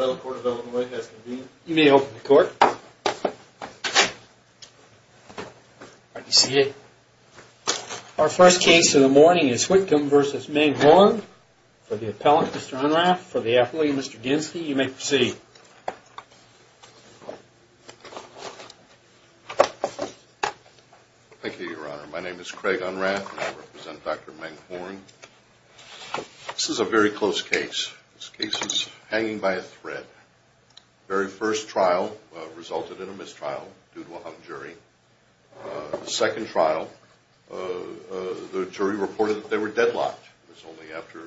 Our first case of the morning is Whitcomb v. Meng Horng for the appellant, Mr. Unrath, for the athlete, Mr. Ginsky. You may proceed. Thank you, Your Honor. My name is Craig Unrath and I represent Dr. Meng Horng. This is a very close case. This case is hanging by a thread. The very first trial resulted in a mistrial due to a hung jury. The second trial, the jury reported that they were deadlocked. It was only after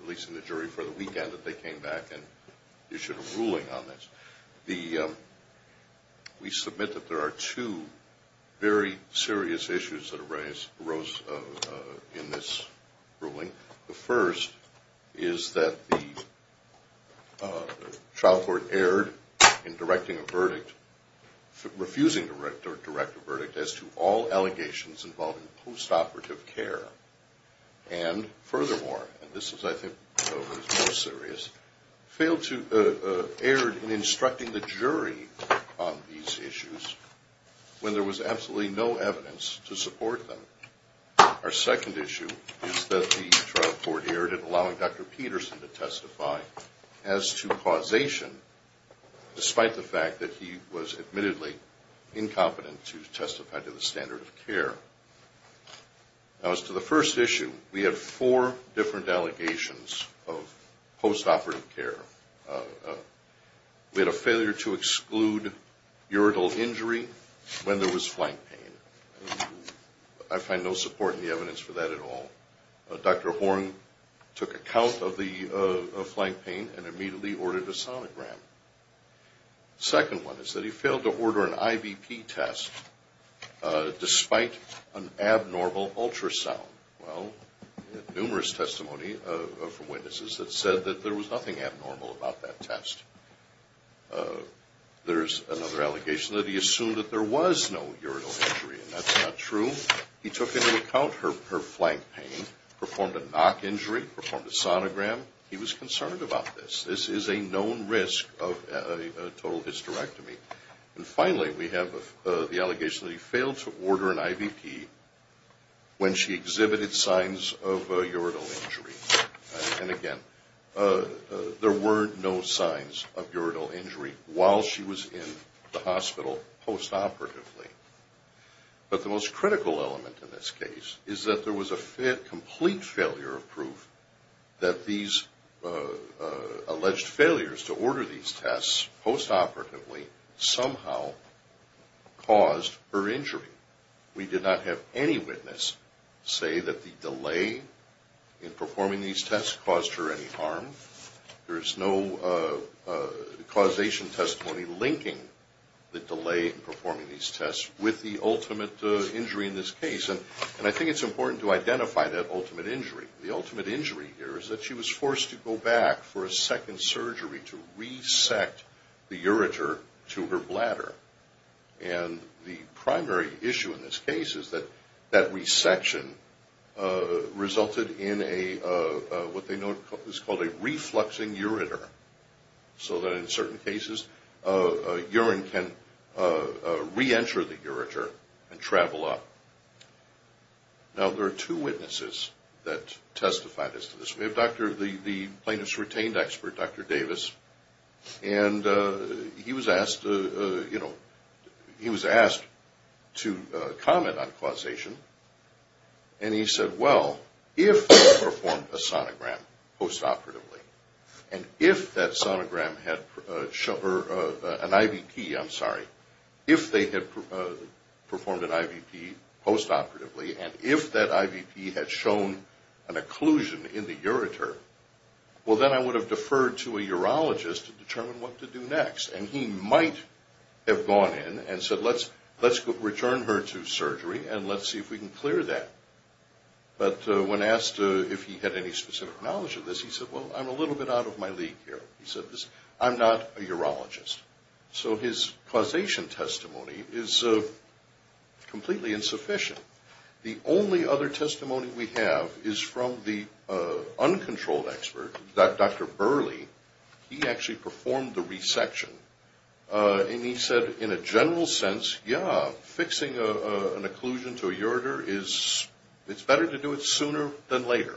releasing the jury for the weekend that they came back and issued a ruling on this. We submit that there are two very serious issues that arose in this ruling. The first is that the trial court erred in directing a verdict, refusing to direct a verdict as to all allegations involving post-operative care. And furthermore, and this I think is the most serious, failed to err in instructing the jury on these issues when there was absolutely no evidence to support them. Our second issue is that the trial court erred in allowing Dr. Peterson to testify as to causation, despite the fact that he was admittedly incompetent to testify to the standard of care. Now as to the first issue, we have four different allegations of post-operative care. We had a failure to exclude urinal injury when there was flank pain. I find no support in the evidence for that at all. Dr. Horng took account of the flank pain and immediately ordered a sonogram. The second one is that he failed to order an IVP test despite an abnormal ultrasound. Well, we had numerous testimony from witnesses that said that there was nothing abnormal about that test. There's another allegation that he assumed that there was no urinal injury, and that's not true. He took into account her flank pain, performed a knock injury, performed a sonogram. He was concerned about this. This is a known risk of a total hysterectomy. And finally, we have the allegation that he failed to order an IVP when she exhibited signs of urinal injury. And again, there were no signs of urinal injury while she was in the hospital post-operatively. But the most critical element in this case is that there was a complete failure of proof that these alleged failures to order these tests post-operatively somehow caused her injury. We did not have any witness say that the delay in performing these tests caused her any harm. There is no causation testimony linking the delay in performing these tests with the ultimate injury in this case. And I think it's important to identify that ultimate injury. The ultimate injury here is that she was forced to go back for a second surgery to resect the ureter to her bladder. And the primary issue in this case is that that resection resulted in what they know is called a refluxing ureter. So that in certain cases, urine can re-enter the ureter and travel up. Now, there are two witnesses that testified as to this. We have the plaintiff's retained expert, Dr. Davis. And he was asked to comment on causation. And he said, well, if they performed a sonogram post-operatively, and if that sonogram had – or an IVP, I'm sorry. Well, then I would have deferred to a urologist to determine what to do next. And he might have gone in and said, let's return her to surgery and let's see if we can clear that. But when asked if he had any specific knowledge of this, he said, well, I'm a little bit out of my league here. He said, I'm not a urologist. So his causation testimony is completely insufficient. The only other testimony we have is from the uncontrolled expert, Dr. Burley. He actually performed the resection. And he said, in a general sense, yeah, fixing an occlusion to a ureter is – it's better to do it sooner than later.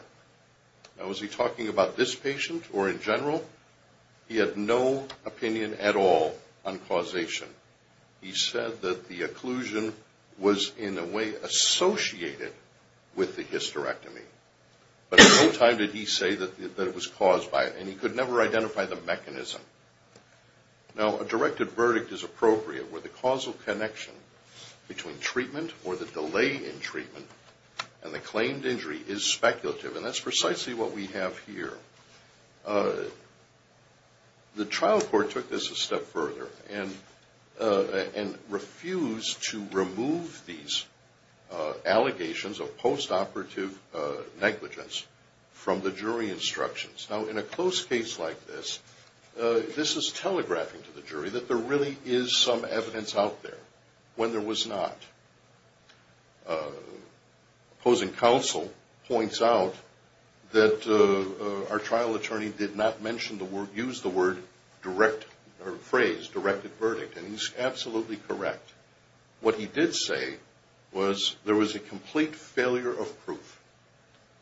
Now, was he talking about this patient or in general? He had no opinion at all on causation. He said that the occlusion was in a way associated with the hysterectomy. But at no time did he say that it was caused by it. And he could never identify the mechanism. Now, a directed verdict is appropriate where the causal connection between treatment or the delay in treatment and the claimed injury is speculative. And that's precisely what we have here. The trial court took this a step further and refused to remove these allegations of post-operative negligence from the jury instructions. Now, in a close case like this, this is telegraphing to the jury that there really is some evidence out there when there was not. Opposing counsel points out that our trial attorney did not mention the word – use the word direct – or phrase directed verdict. And he's absolutely correct. What he did say was there was a complete failure of proof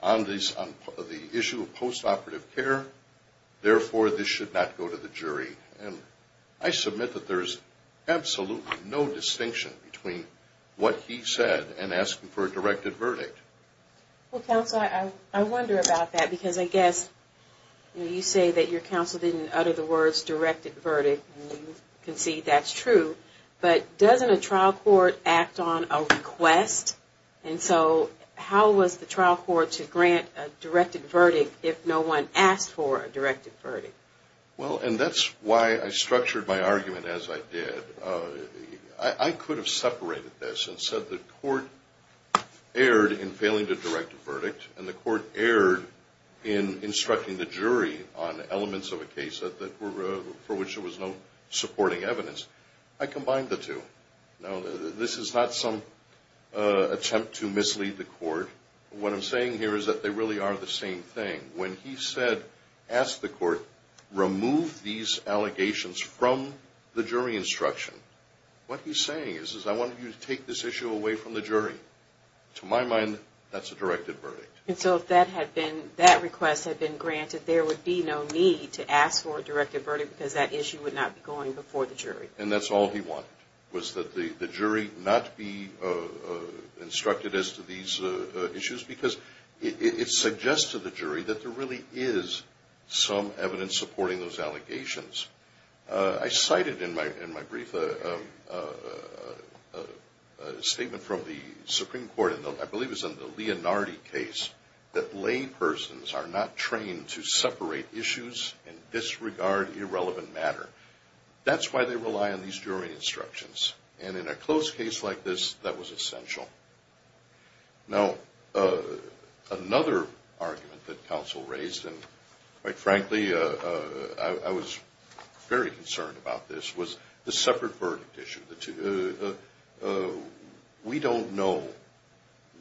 on the issue of post-operative care. Therefore, this should not go to the jury. And I submit that there is absolutely no distinction between what he said and asking for a directed verdict. Well, counsel, I wonder about that. Because I guess you say that your counsel didn't utter the words directed verdict. And you concede that's true. But doesn't a trial court act on a request? And so how was the trial court to grant a directed verdict if no one asked for a directed verdict? Well, and that's why I structured my argument as I did. I could have separated this and said the court erred in failing to direct a verdict, and the court erred in instructing the jury on elements of a case for which there was no supporting evidence. I combined the two. Now, this is not some attempt to mislead the court. What I'm saying here is that they really are the same thing. When he said, ask the court, remove these allegations from the jury instruction, what he's saying is I want you to take this issue away from the jury. To my mind, that's a directed verdict. And so if that request had been granted, there would be no need to ask for a directed verdict because that issue would not be going before the jury. And that's all he wanted was that the jury not be instructed as to these issues because it suggests to the jury that there really is some evidence supporting those allegations. I cited in my brief a statement from the Supreme Court, I believe it was in the Leonardi case, that laypersons are not trained to separate issues and disregard irrelevant matter. That's why they rely on these jury instructions. And in a close case like this, that was essential. Now, another argument that counsel raised, and quite frankly, I was very concerned about this, was the separate verdict issue. We don't know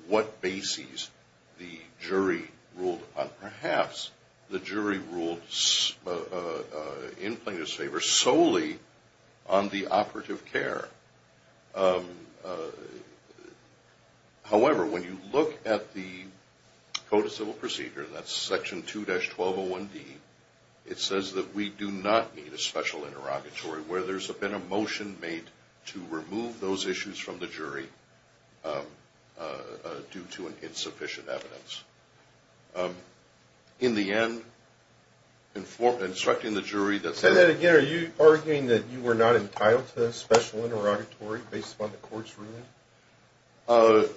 what bases the jury ruled on. Perhaps the jury ruled in plaintiff's favor solely on the operative care. However, when you look at the Code of Civil Procedure, that's section 2-1201D, it says that we do not need a special interrogatory where there's been a motion made to remove those issues from the jury due to insufficient evidence. In the end, instructing the jury that's... based upon the court's ruling?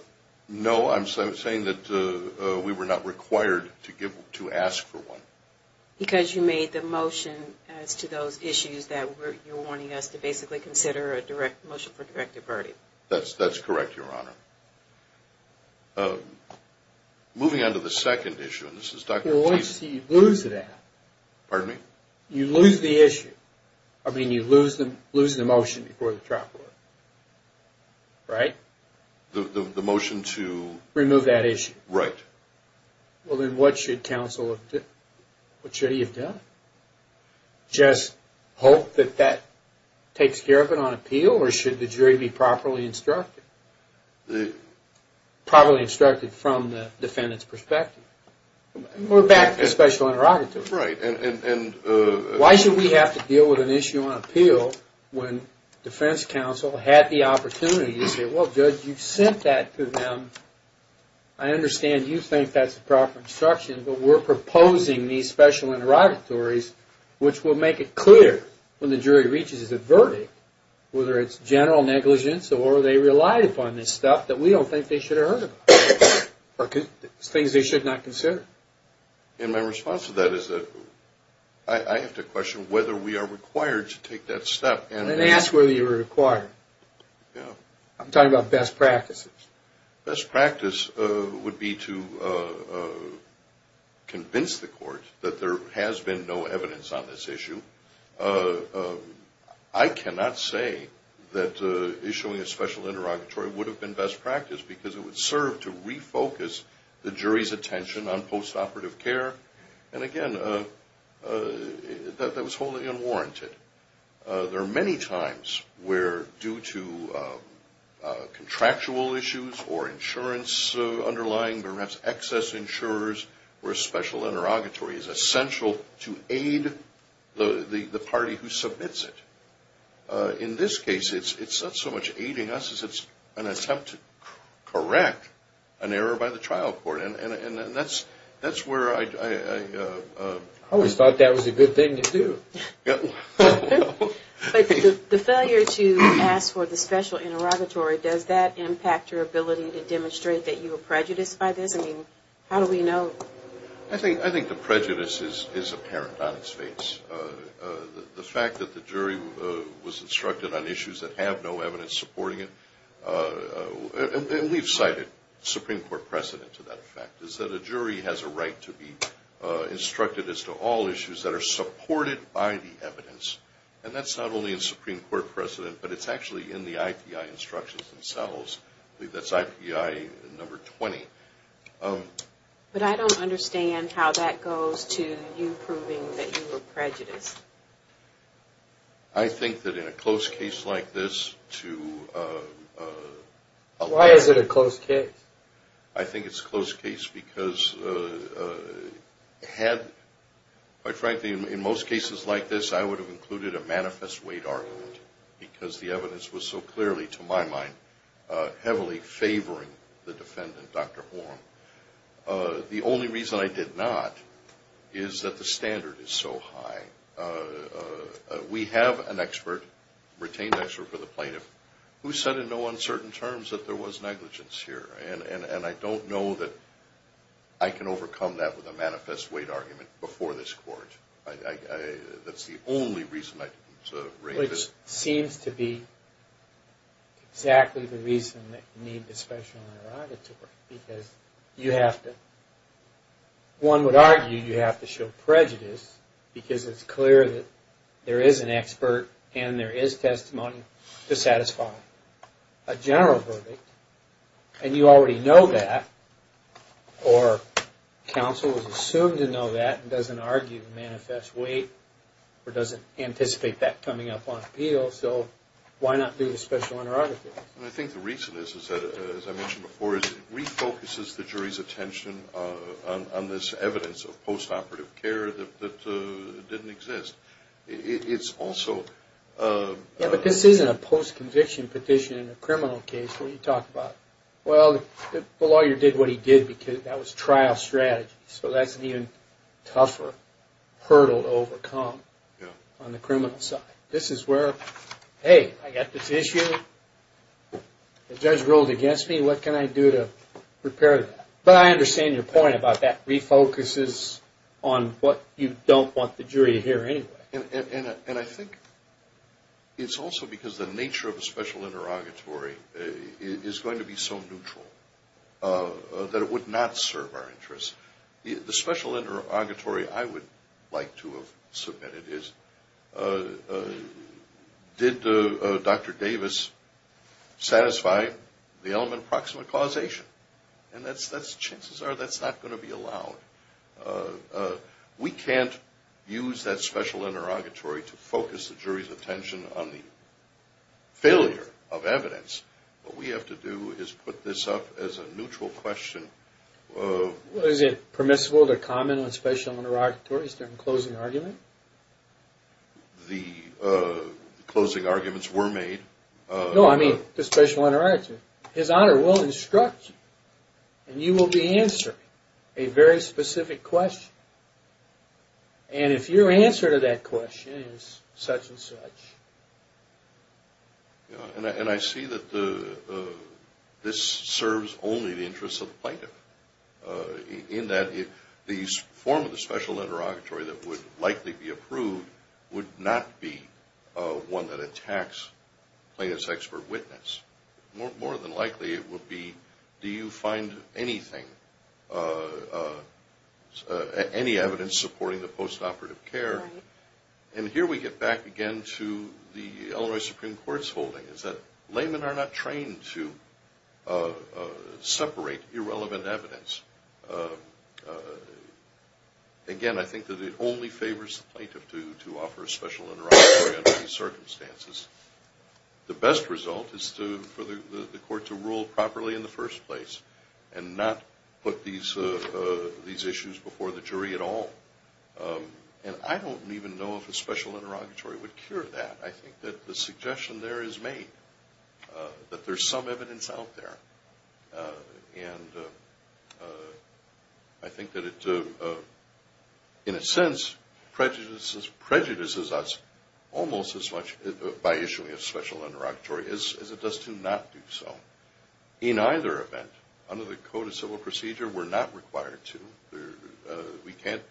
No, I'm saying that we were not required to ask for one. Because you made the motion as to those issues that you're wanting us to basically consider a motion for directed verdict. That's correct, Your Honor. Moving on to the second issue, and this is... Well, once you lose that... Pardon me? You lose the issue. I mean, you lose the motion before the trial court. Right? The motion to... Remove that issue. Right. Well, then what should counsel have done? What should he have done? Just hope that that takes care of it on appeal, or should the jury be properly instructed? Probably instructed from the defendant's perspective. We're back to special interrogatory. Right. Why should we have to deal with an issue on appeal when defense counsel had the opportunity to say, well, Judge, you sent that to them. I understand you think that's the proper instruction, but we're proposing these special interrogatories, which will make it clear when the jury reaches a verdict, whether it's general negligence or they relied upon this stuff that we don't think they should have heard about. Things they should not consider. And my response to that is that I have to question whether we are required to take that step. And ask whether you're required. Yeah. I'm talking about best practices. Best practice would be to convince the court that there has been no evidence on this issue. I cannot say that issuing a special interrogatory would have been best practice because it would serve to refocus the jury's attention on postoperative care. And again, that was wholly unwarranted. There are many times where due to contractual issues or insurance underlying, perhaps excess insurers, where a special interrogatory is essential to aid the party who submits it. In this case, it's not so much aiding us as it's an attempt to correct an error by the trial court. And that's where I... I always thought that was a good thing to do. But the failure to ask for the special interrogatory, does that impact your ability to demonstrate that you were prejudiced by this? I mean, how do we know? I think the prejudice is apparent on its face. The fact that the jury was instructed on issues that have no evidence supporting it, and we've cited Supreme Court precedent to that effect, is that a jury has a right to be instructed as to all issues that are supported by the evidence. And that's not only in Supreme Court precedent, but it's actually in the IPI instructions themselves. I believe that's IPI number 20. But I don't understand how that goes to you proving that you were prejudiced. I think that in a close case like this to... Why is it a close case? I think it's a close case because had... Quite frankly, in most cases like this, I would have included a manifest weight argument because the evidence was so clearly, to my mind, heavily favoring the defendant, Dr. Horne. The only reason I did not is that the standard is so high. We have an expert, retained expert for the plaintiff, who said in no uncertain terms that there was negligence here. And I don't know that I can overcome that with a manifest weight argument before this court. That's the only reason I can sort of raise it. Which seems to be exactly the reason that you need the special interrogatory. Because you have to... One would argue you have to show prejudice because it's clear that there is an expert and there is testimony to satisfy a general verdict. And you already know that, or counsel is assumed to know that and doesn't argue the manifest weight or doesn't anticipate that coming up on appeal. So why not do the special interrogatory? I think the reason is, as I mentioned before, is it refocuses the jury's attention on this evidence of post-operative care that didn't exist. It's also... Yeah, but this isn't a post-conviction petition in a criminal case. What are you talking about? Well, the lawyer did what he did because that was trial strategy. So that's an even tougher hurdle to overcome on the criminal side. This is where, hey, I got this issue. The judge ruled against me. What can I do to repair that? But I understand your point about that refocuses on what you don't want the jury to hear anyway. And I think it's also because the nature of the special interrogatory is going to be so neutral that it would not serve our interests. The special interrogatory I would like to have submitted is, did Dr. Davis satisfy the element of proximate causation? And chances are that's not going to be allowed. We can't use that special interrogatory to focus the jury's attention on the failure of evidence. What we have to do is put this up as a neutral question. Is it permissible to comment on special interrogatories during a closing argument? The closing arguments were made. No, I mean the special interrogatory. His Honor will instruct you, and you will be answering a very specific question. And if your answer to that question is such and such... And I see that this serves only the interests of the plaintiff, in that the form of the special interrogatory that would likely be approved would not be one that attacks plaintiff's expert witness. More than likely it would be, do you find anything, any evidence supporting the postoperative care? And here we get back again to the Illinois Supreme Court's holding, is that laymen are not trained to separate irrelevant evidence. Again, I think that it only favors the plaintiff to offer a special interrogatory under these circumstances. The best result is for the court to rule properly in the first place and not put these issues before the jury at all. And I don't even know if a special interrogatory would cure that. I think that the suggestion there is made, that there's some evidence out there. And I think that it, in a sense, prejudices us almost as much by issuing a special interrogatory as it does to not do so. In either event, under the Code of Civil Procedure we're not required to. We can't,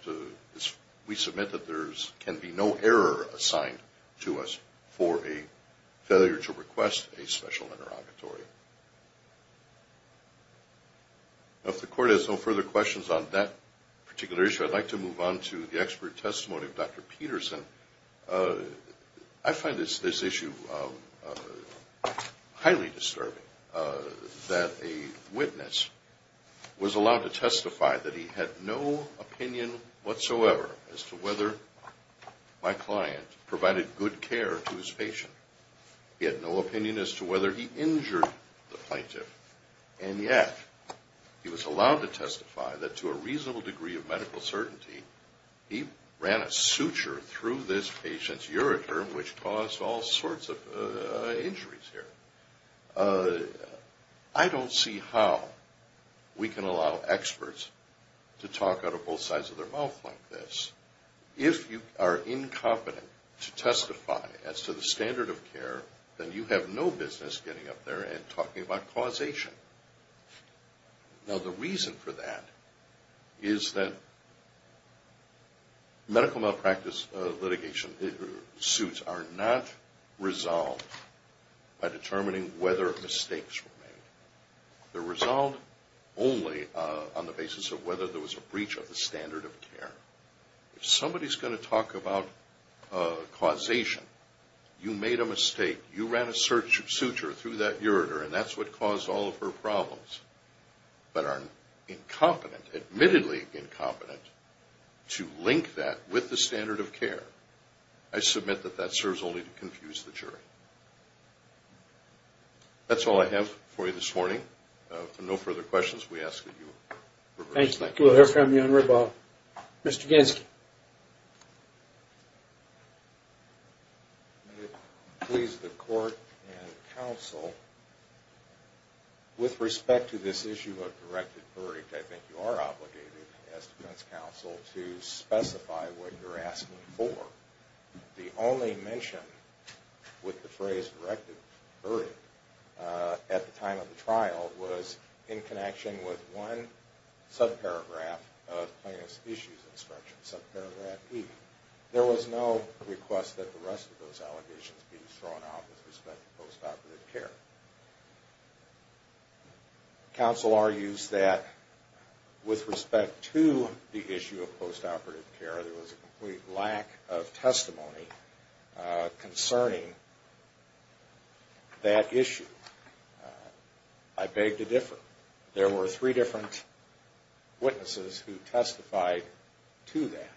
we submit that there can be no error assigned to us for a failure to request a special interrogatory. If the court has no further questions on that particular issue, I'd like to move on to the expert testimony of Dr. Peterson. I find this issue highly disturbing, that a witness was allowed to testify that he had no opinion whatsoever as to whether my client provided good care to his patient. He had no opinion as to whether he injured the plaintiff. And yet, he was allowed to testify that to a reasonable degree of medical certainty, he ran a suture through this patient's ureter, which caused all sorts of injuries here. I don't see how we can allow experts to talk out of both sides of their mouth like this. If you are incompetent to testify as to the standard of care, then you have no business getting up there and talking about causation. Now the reason for that is that medical malpractice litigation suits are not resolved by determining whether mistakes were made. They're resolved only on the basis of whether there was a breach of the standard of care. If somebody's going to talk about causation, you made a mistake, you ran a suture through that ureter and that's what caused all of her problems, but are incompetent, admittedly incompetent, to link that with the standard of care, I submit that that serves only to confuse the jury. That's all I have for you this morning. If there are no further questions, we ask that you reverse. Thank you. We'll hear from you on rebuttal. Mr. Gansky. Please, the court and counsel, with respect to this issue of directed verdict, I think you are obligated as defense counsel to specify what you're asking for. The only mention with the phrase directed verdict at the time of the trial was in connection with one subparagraph of plaintiff's issues instruction, subparagraph E. There was no request that the rest of those allegations be thrown out with respect to postoperative care. Counsel argues that with respect to the issue of postoperative care, there was a complete lack of testimony concerning that issue. I beg to differ. There were three different witnesses who testified to that.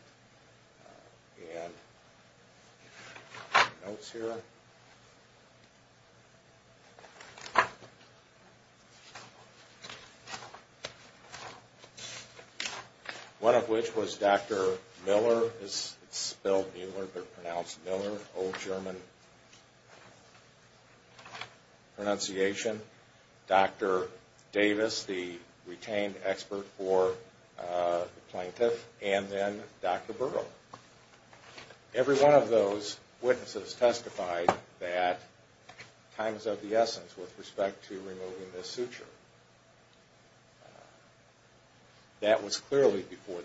And notes here. One of which was Dr. Miller, old German pronunciation, Dr. Davis, the retained expert for the plaintiff, and then Dr. Burrill. Every one of those witnesses testified that times of the essence with respect to removing the suture. That was clearly before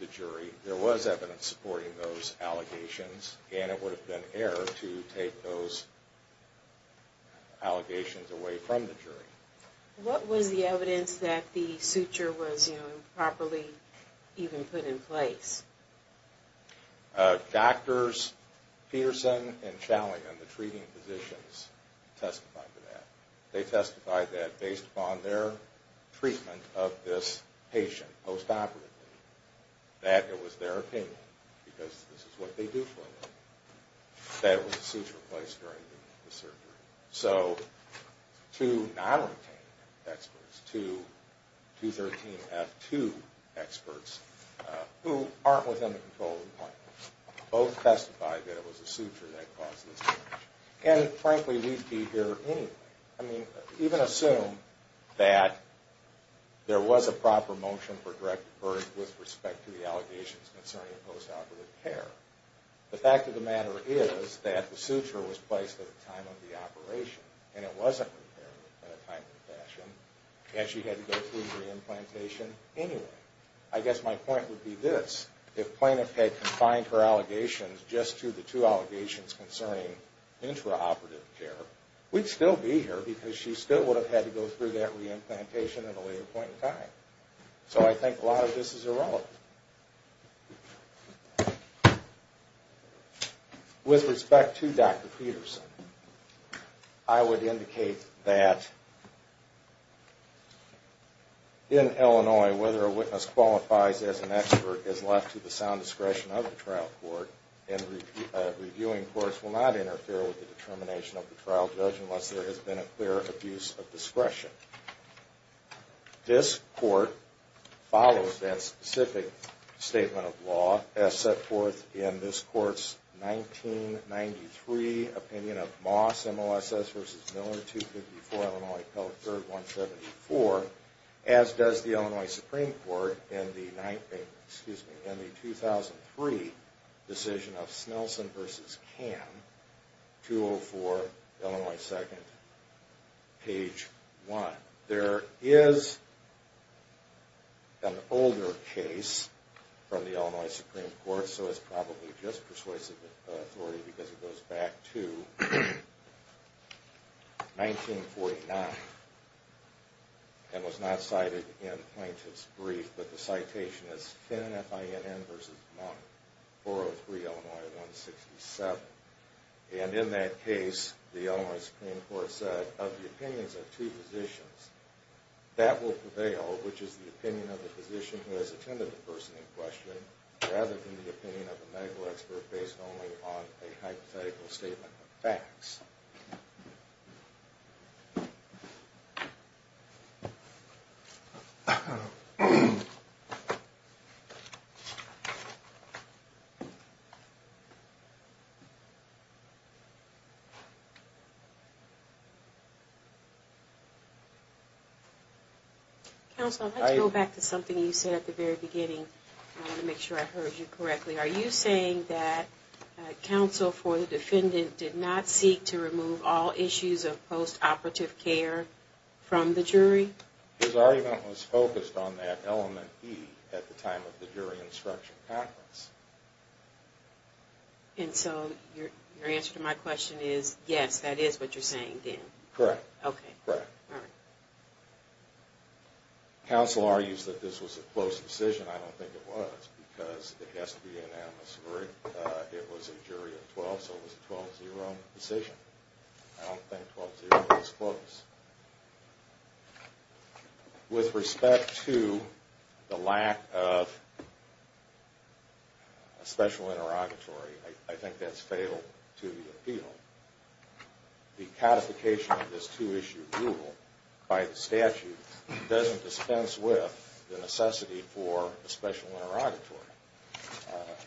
the jury. There was evidence supporting those allegations, and it would have been error to take those allegations away from the jury. What was the evidence that the suture was improperly even put in place? Doctors Peterson and Challion, the treating physicians, testified to that. They testified that based upon their treatment of this patient postoperatively, that it was their opinion, because this is what they do for them, that the suture was placed during the surgery. So, two non-retained experts, two 213F2 experts, who aren't within the control of the plaintiff, both testified that it was the suture that caused this change. And frankly, we'd be here anyway. I mean, even assume that there was a proper motion for direct verdict with respect to the allegations concerning postoperative care. The fact of the matter is that the suture was placed at the time of the operation, and it wasn't repaired in a timely fashion, and she had to go through re-implantation anyway. I guess my point would be this. If plaintiff had confined her allegations just to the two allegations concerning intraoperative care, we'd still be here, because she still would have had to go through that re-implantation at a later point in time. So I think a lot of this is irrelevant. With respect to Dr. Peterson, I would indicate that in Illinois, whether a witness qualifies as an expert is left to the sound discretion of the trial court, and reviewing courts will not interfere with the determination of the trial judge unless there has been a clear abuse of discretion. This court follows that specific statement of law as set forth in this court's 1993 opinion of Moss, MOSS v. Miller, 254 Illinois Code 3rd 174, as does the Illinois Supreme Court in the 2003 decision of Snelson v. Kamm, 204 Illinois 2nd, page 1. There is an older case from the Illinois Supreme Court, so it's probably just persuasive authority because it goes back to 1949, and was not cited in the plaintiff's brief, but the citation is Finn, F-I-N-N, v. Kamm, 403 Illinois 167. And in that case, the Illinois Supreme Court said, of the opinions of two physicians, that will prevail, which is the opinion of the physician who has attended the person in question, rather than the opinion of a medical expert based only on a hypothetical statement of facts. Counsel, let's go back to something you said at the very beginning. I want to make sure I heard you correctly. Are you saying that counsel for the defendant did not seek to remove all issues of post-operative care from the jury? His argument was focused on that element B at the time of the jury instruction conference. And so your answer to my question is, yes, that is what you're saying then? Correct. Okay. Counsel argues that this was a close decision. I don't think it was, because it has to be an anonymous jury. It was a jury of 12, so it was a 12-0 decision. I don't think 12-0 was close. With respect to the lack of a special interrogatory, I think that's fatal to the appeal. The codification of this two-issue rule by the statute doesn't dispense with the necessity for a special interrogatory.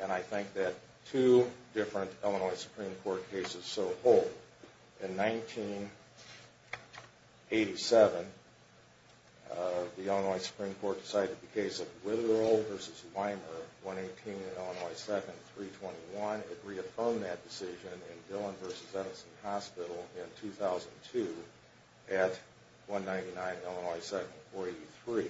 And I think that two different Illinois Supreme Court cases so hold. In 1987, the Illinois Supreme Court decided the case of Witherall v. Weimer, 118 and Illinois 2nd, 321. It reaffirmed that decision in Dillon v. Edison Hospital in 2002 at 199 and Illinois 2nd, 483.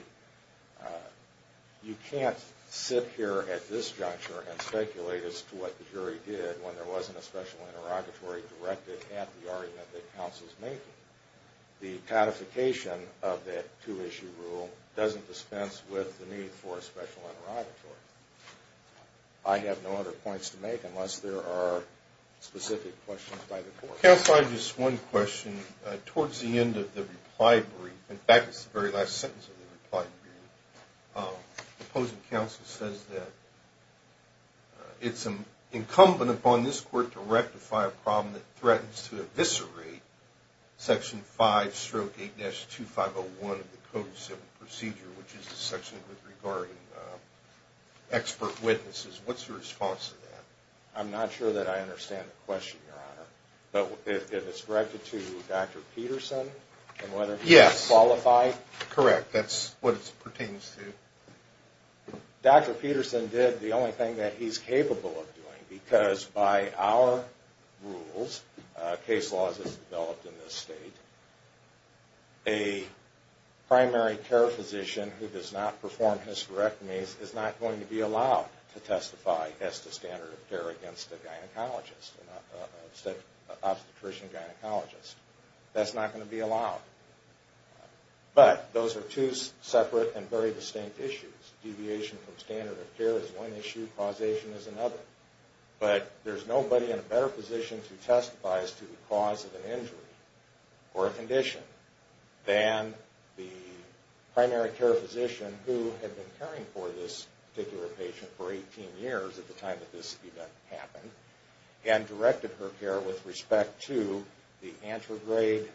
You can't sit here at this juncture and speculate as to what the jury did when there wasn't a special interrogatory directed at the argument that counsel is making. The codification of that two-issue rule doesn't dispense with the need for a special interrogatory. I have no other points to make unless there are specific questions by the court. Counsel, I have just one question. Towards the end of the reply brief, in fact it's the very last sentence of the reply brief, the opposing counsel says that it's incumbent upon this court to rectify a problem that threatens to eviscerate Section 5-8-2501 of the Code of Civil Procedure, which is the section regarding expert witnesses. What's your response to that? I'm not sure that I understand the question, Your Honor. But if it's directed to Dr. Peterson and whether he's qualified? Yes, correct. That's what it pertains to. Dr. Peterson did the only thing that he's capable of doing because by our rules, case laws as developed in this state, a primary care physician who does not perform hysterectomies is not going to be allowed to testify as to standard of care against a gynecologist, obstetrician-gynecologist. That's not going to be allowed. But those are two separate and very distinct issues. Deviation from standard of care is one issue. Causation is another. But there's nobody in a better position to testify as to the cause of an injury or a condition than the primary care physician who had been caring for this particular patient for 18 years at the time that this event happened and directed her care with respect to the anterograde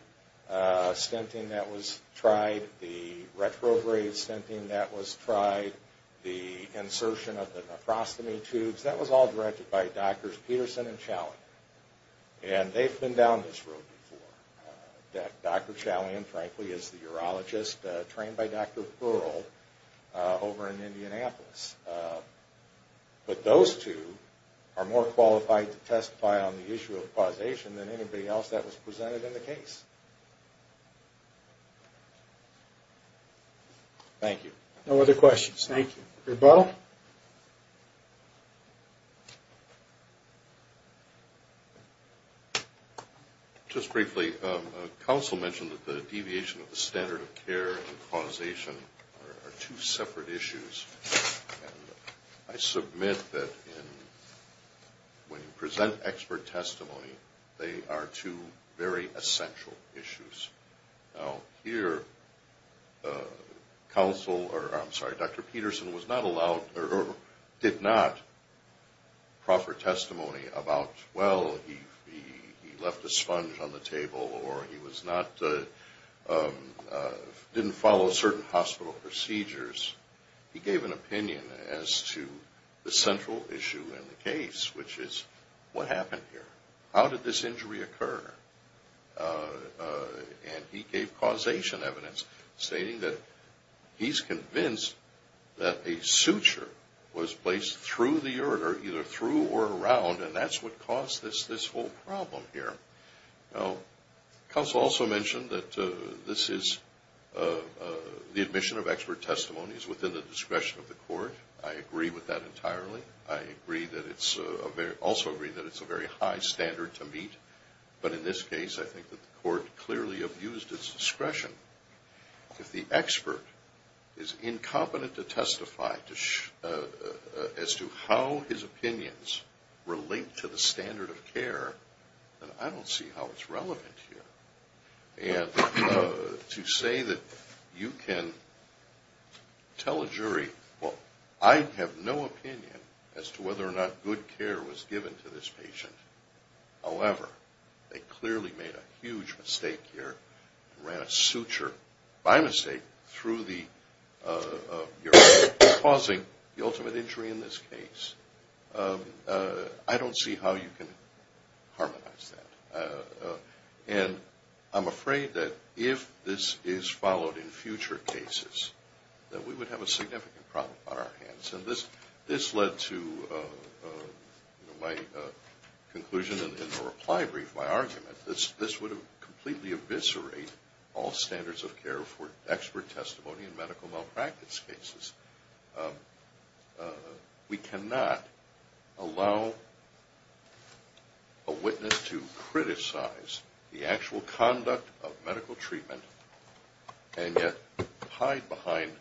stenting that was tried, the retrograde stenting that was tried, the insertion of the nephrostomy tubes. That was all directed by Drs. Peterson and Chalyan. And they've been down this road before. Dr. Chalyan, frankly, is the urologist trained by Dr. Furl over in Indianapolis. But those two are more qualified to testify on the issue of causation than anybody else that was presented in the case. Thank you. No other questions. Thank you. Bill? Well, when Dr. Peterson did not proffer testimony about, well, he left a sponge on the table or he didn't follow certain hospital procedures, he gave an opinion as to the central issue in the case, which is, what happened here? How did this injury occur? And he gave causation evidence stating that he's convinced that a suture was placed through the ureter, either through or around, and that's what caused this whole problem here. Now, counsel also mentioned that this is the admission of expert testimonies within the discretion of the court. I agree with that entirely. I also agree that it's a very high standard to meet. But in this case, I think that the court clearly abused its discretion. If the expert is incompetent to testify as to how his opinions relate to the standard of care, then I don't see how it's relevant here. And to say that you can tell a jury, well, I have no opinion as to whether or not good care was given to this patient. However, they clearly made a huge mistake here and ran a suture by mistake through the ureter, causing the ultimate injury in this case. I don't see how you can harmonize that. And I'm afraid that if this is followed in future cases, that we would have a significant problem on our hands. And this led to my conclusion in the reply brief, my argument, that this would completely eviscerate all standards of care for expert testimony in medical malpractice cases. We cannot allow a witness to criticize the actual conduct of medical treatment and yet hide behind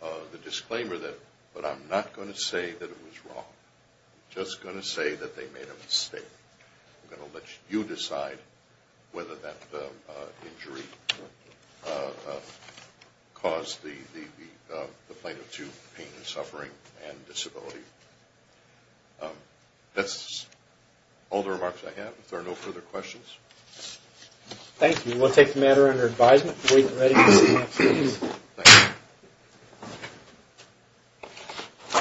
the disclaimer that, but I'm not going to say that it was wrong. I'm just going to say that they made a mistake. I'm going to let you decide whether that injury caused the plaintiff to pain and suffering and disability. That's all the remarks I have. If there are no further questions. Thank you. We'll take the matter under advisement. We are ready to see the next case. Thank you.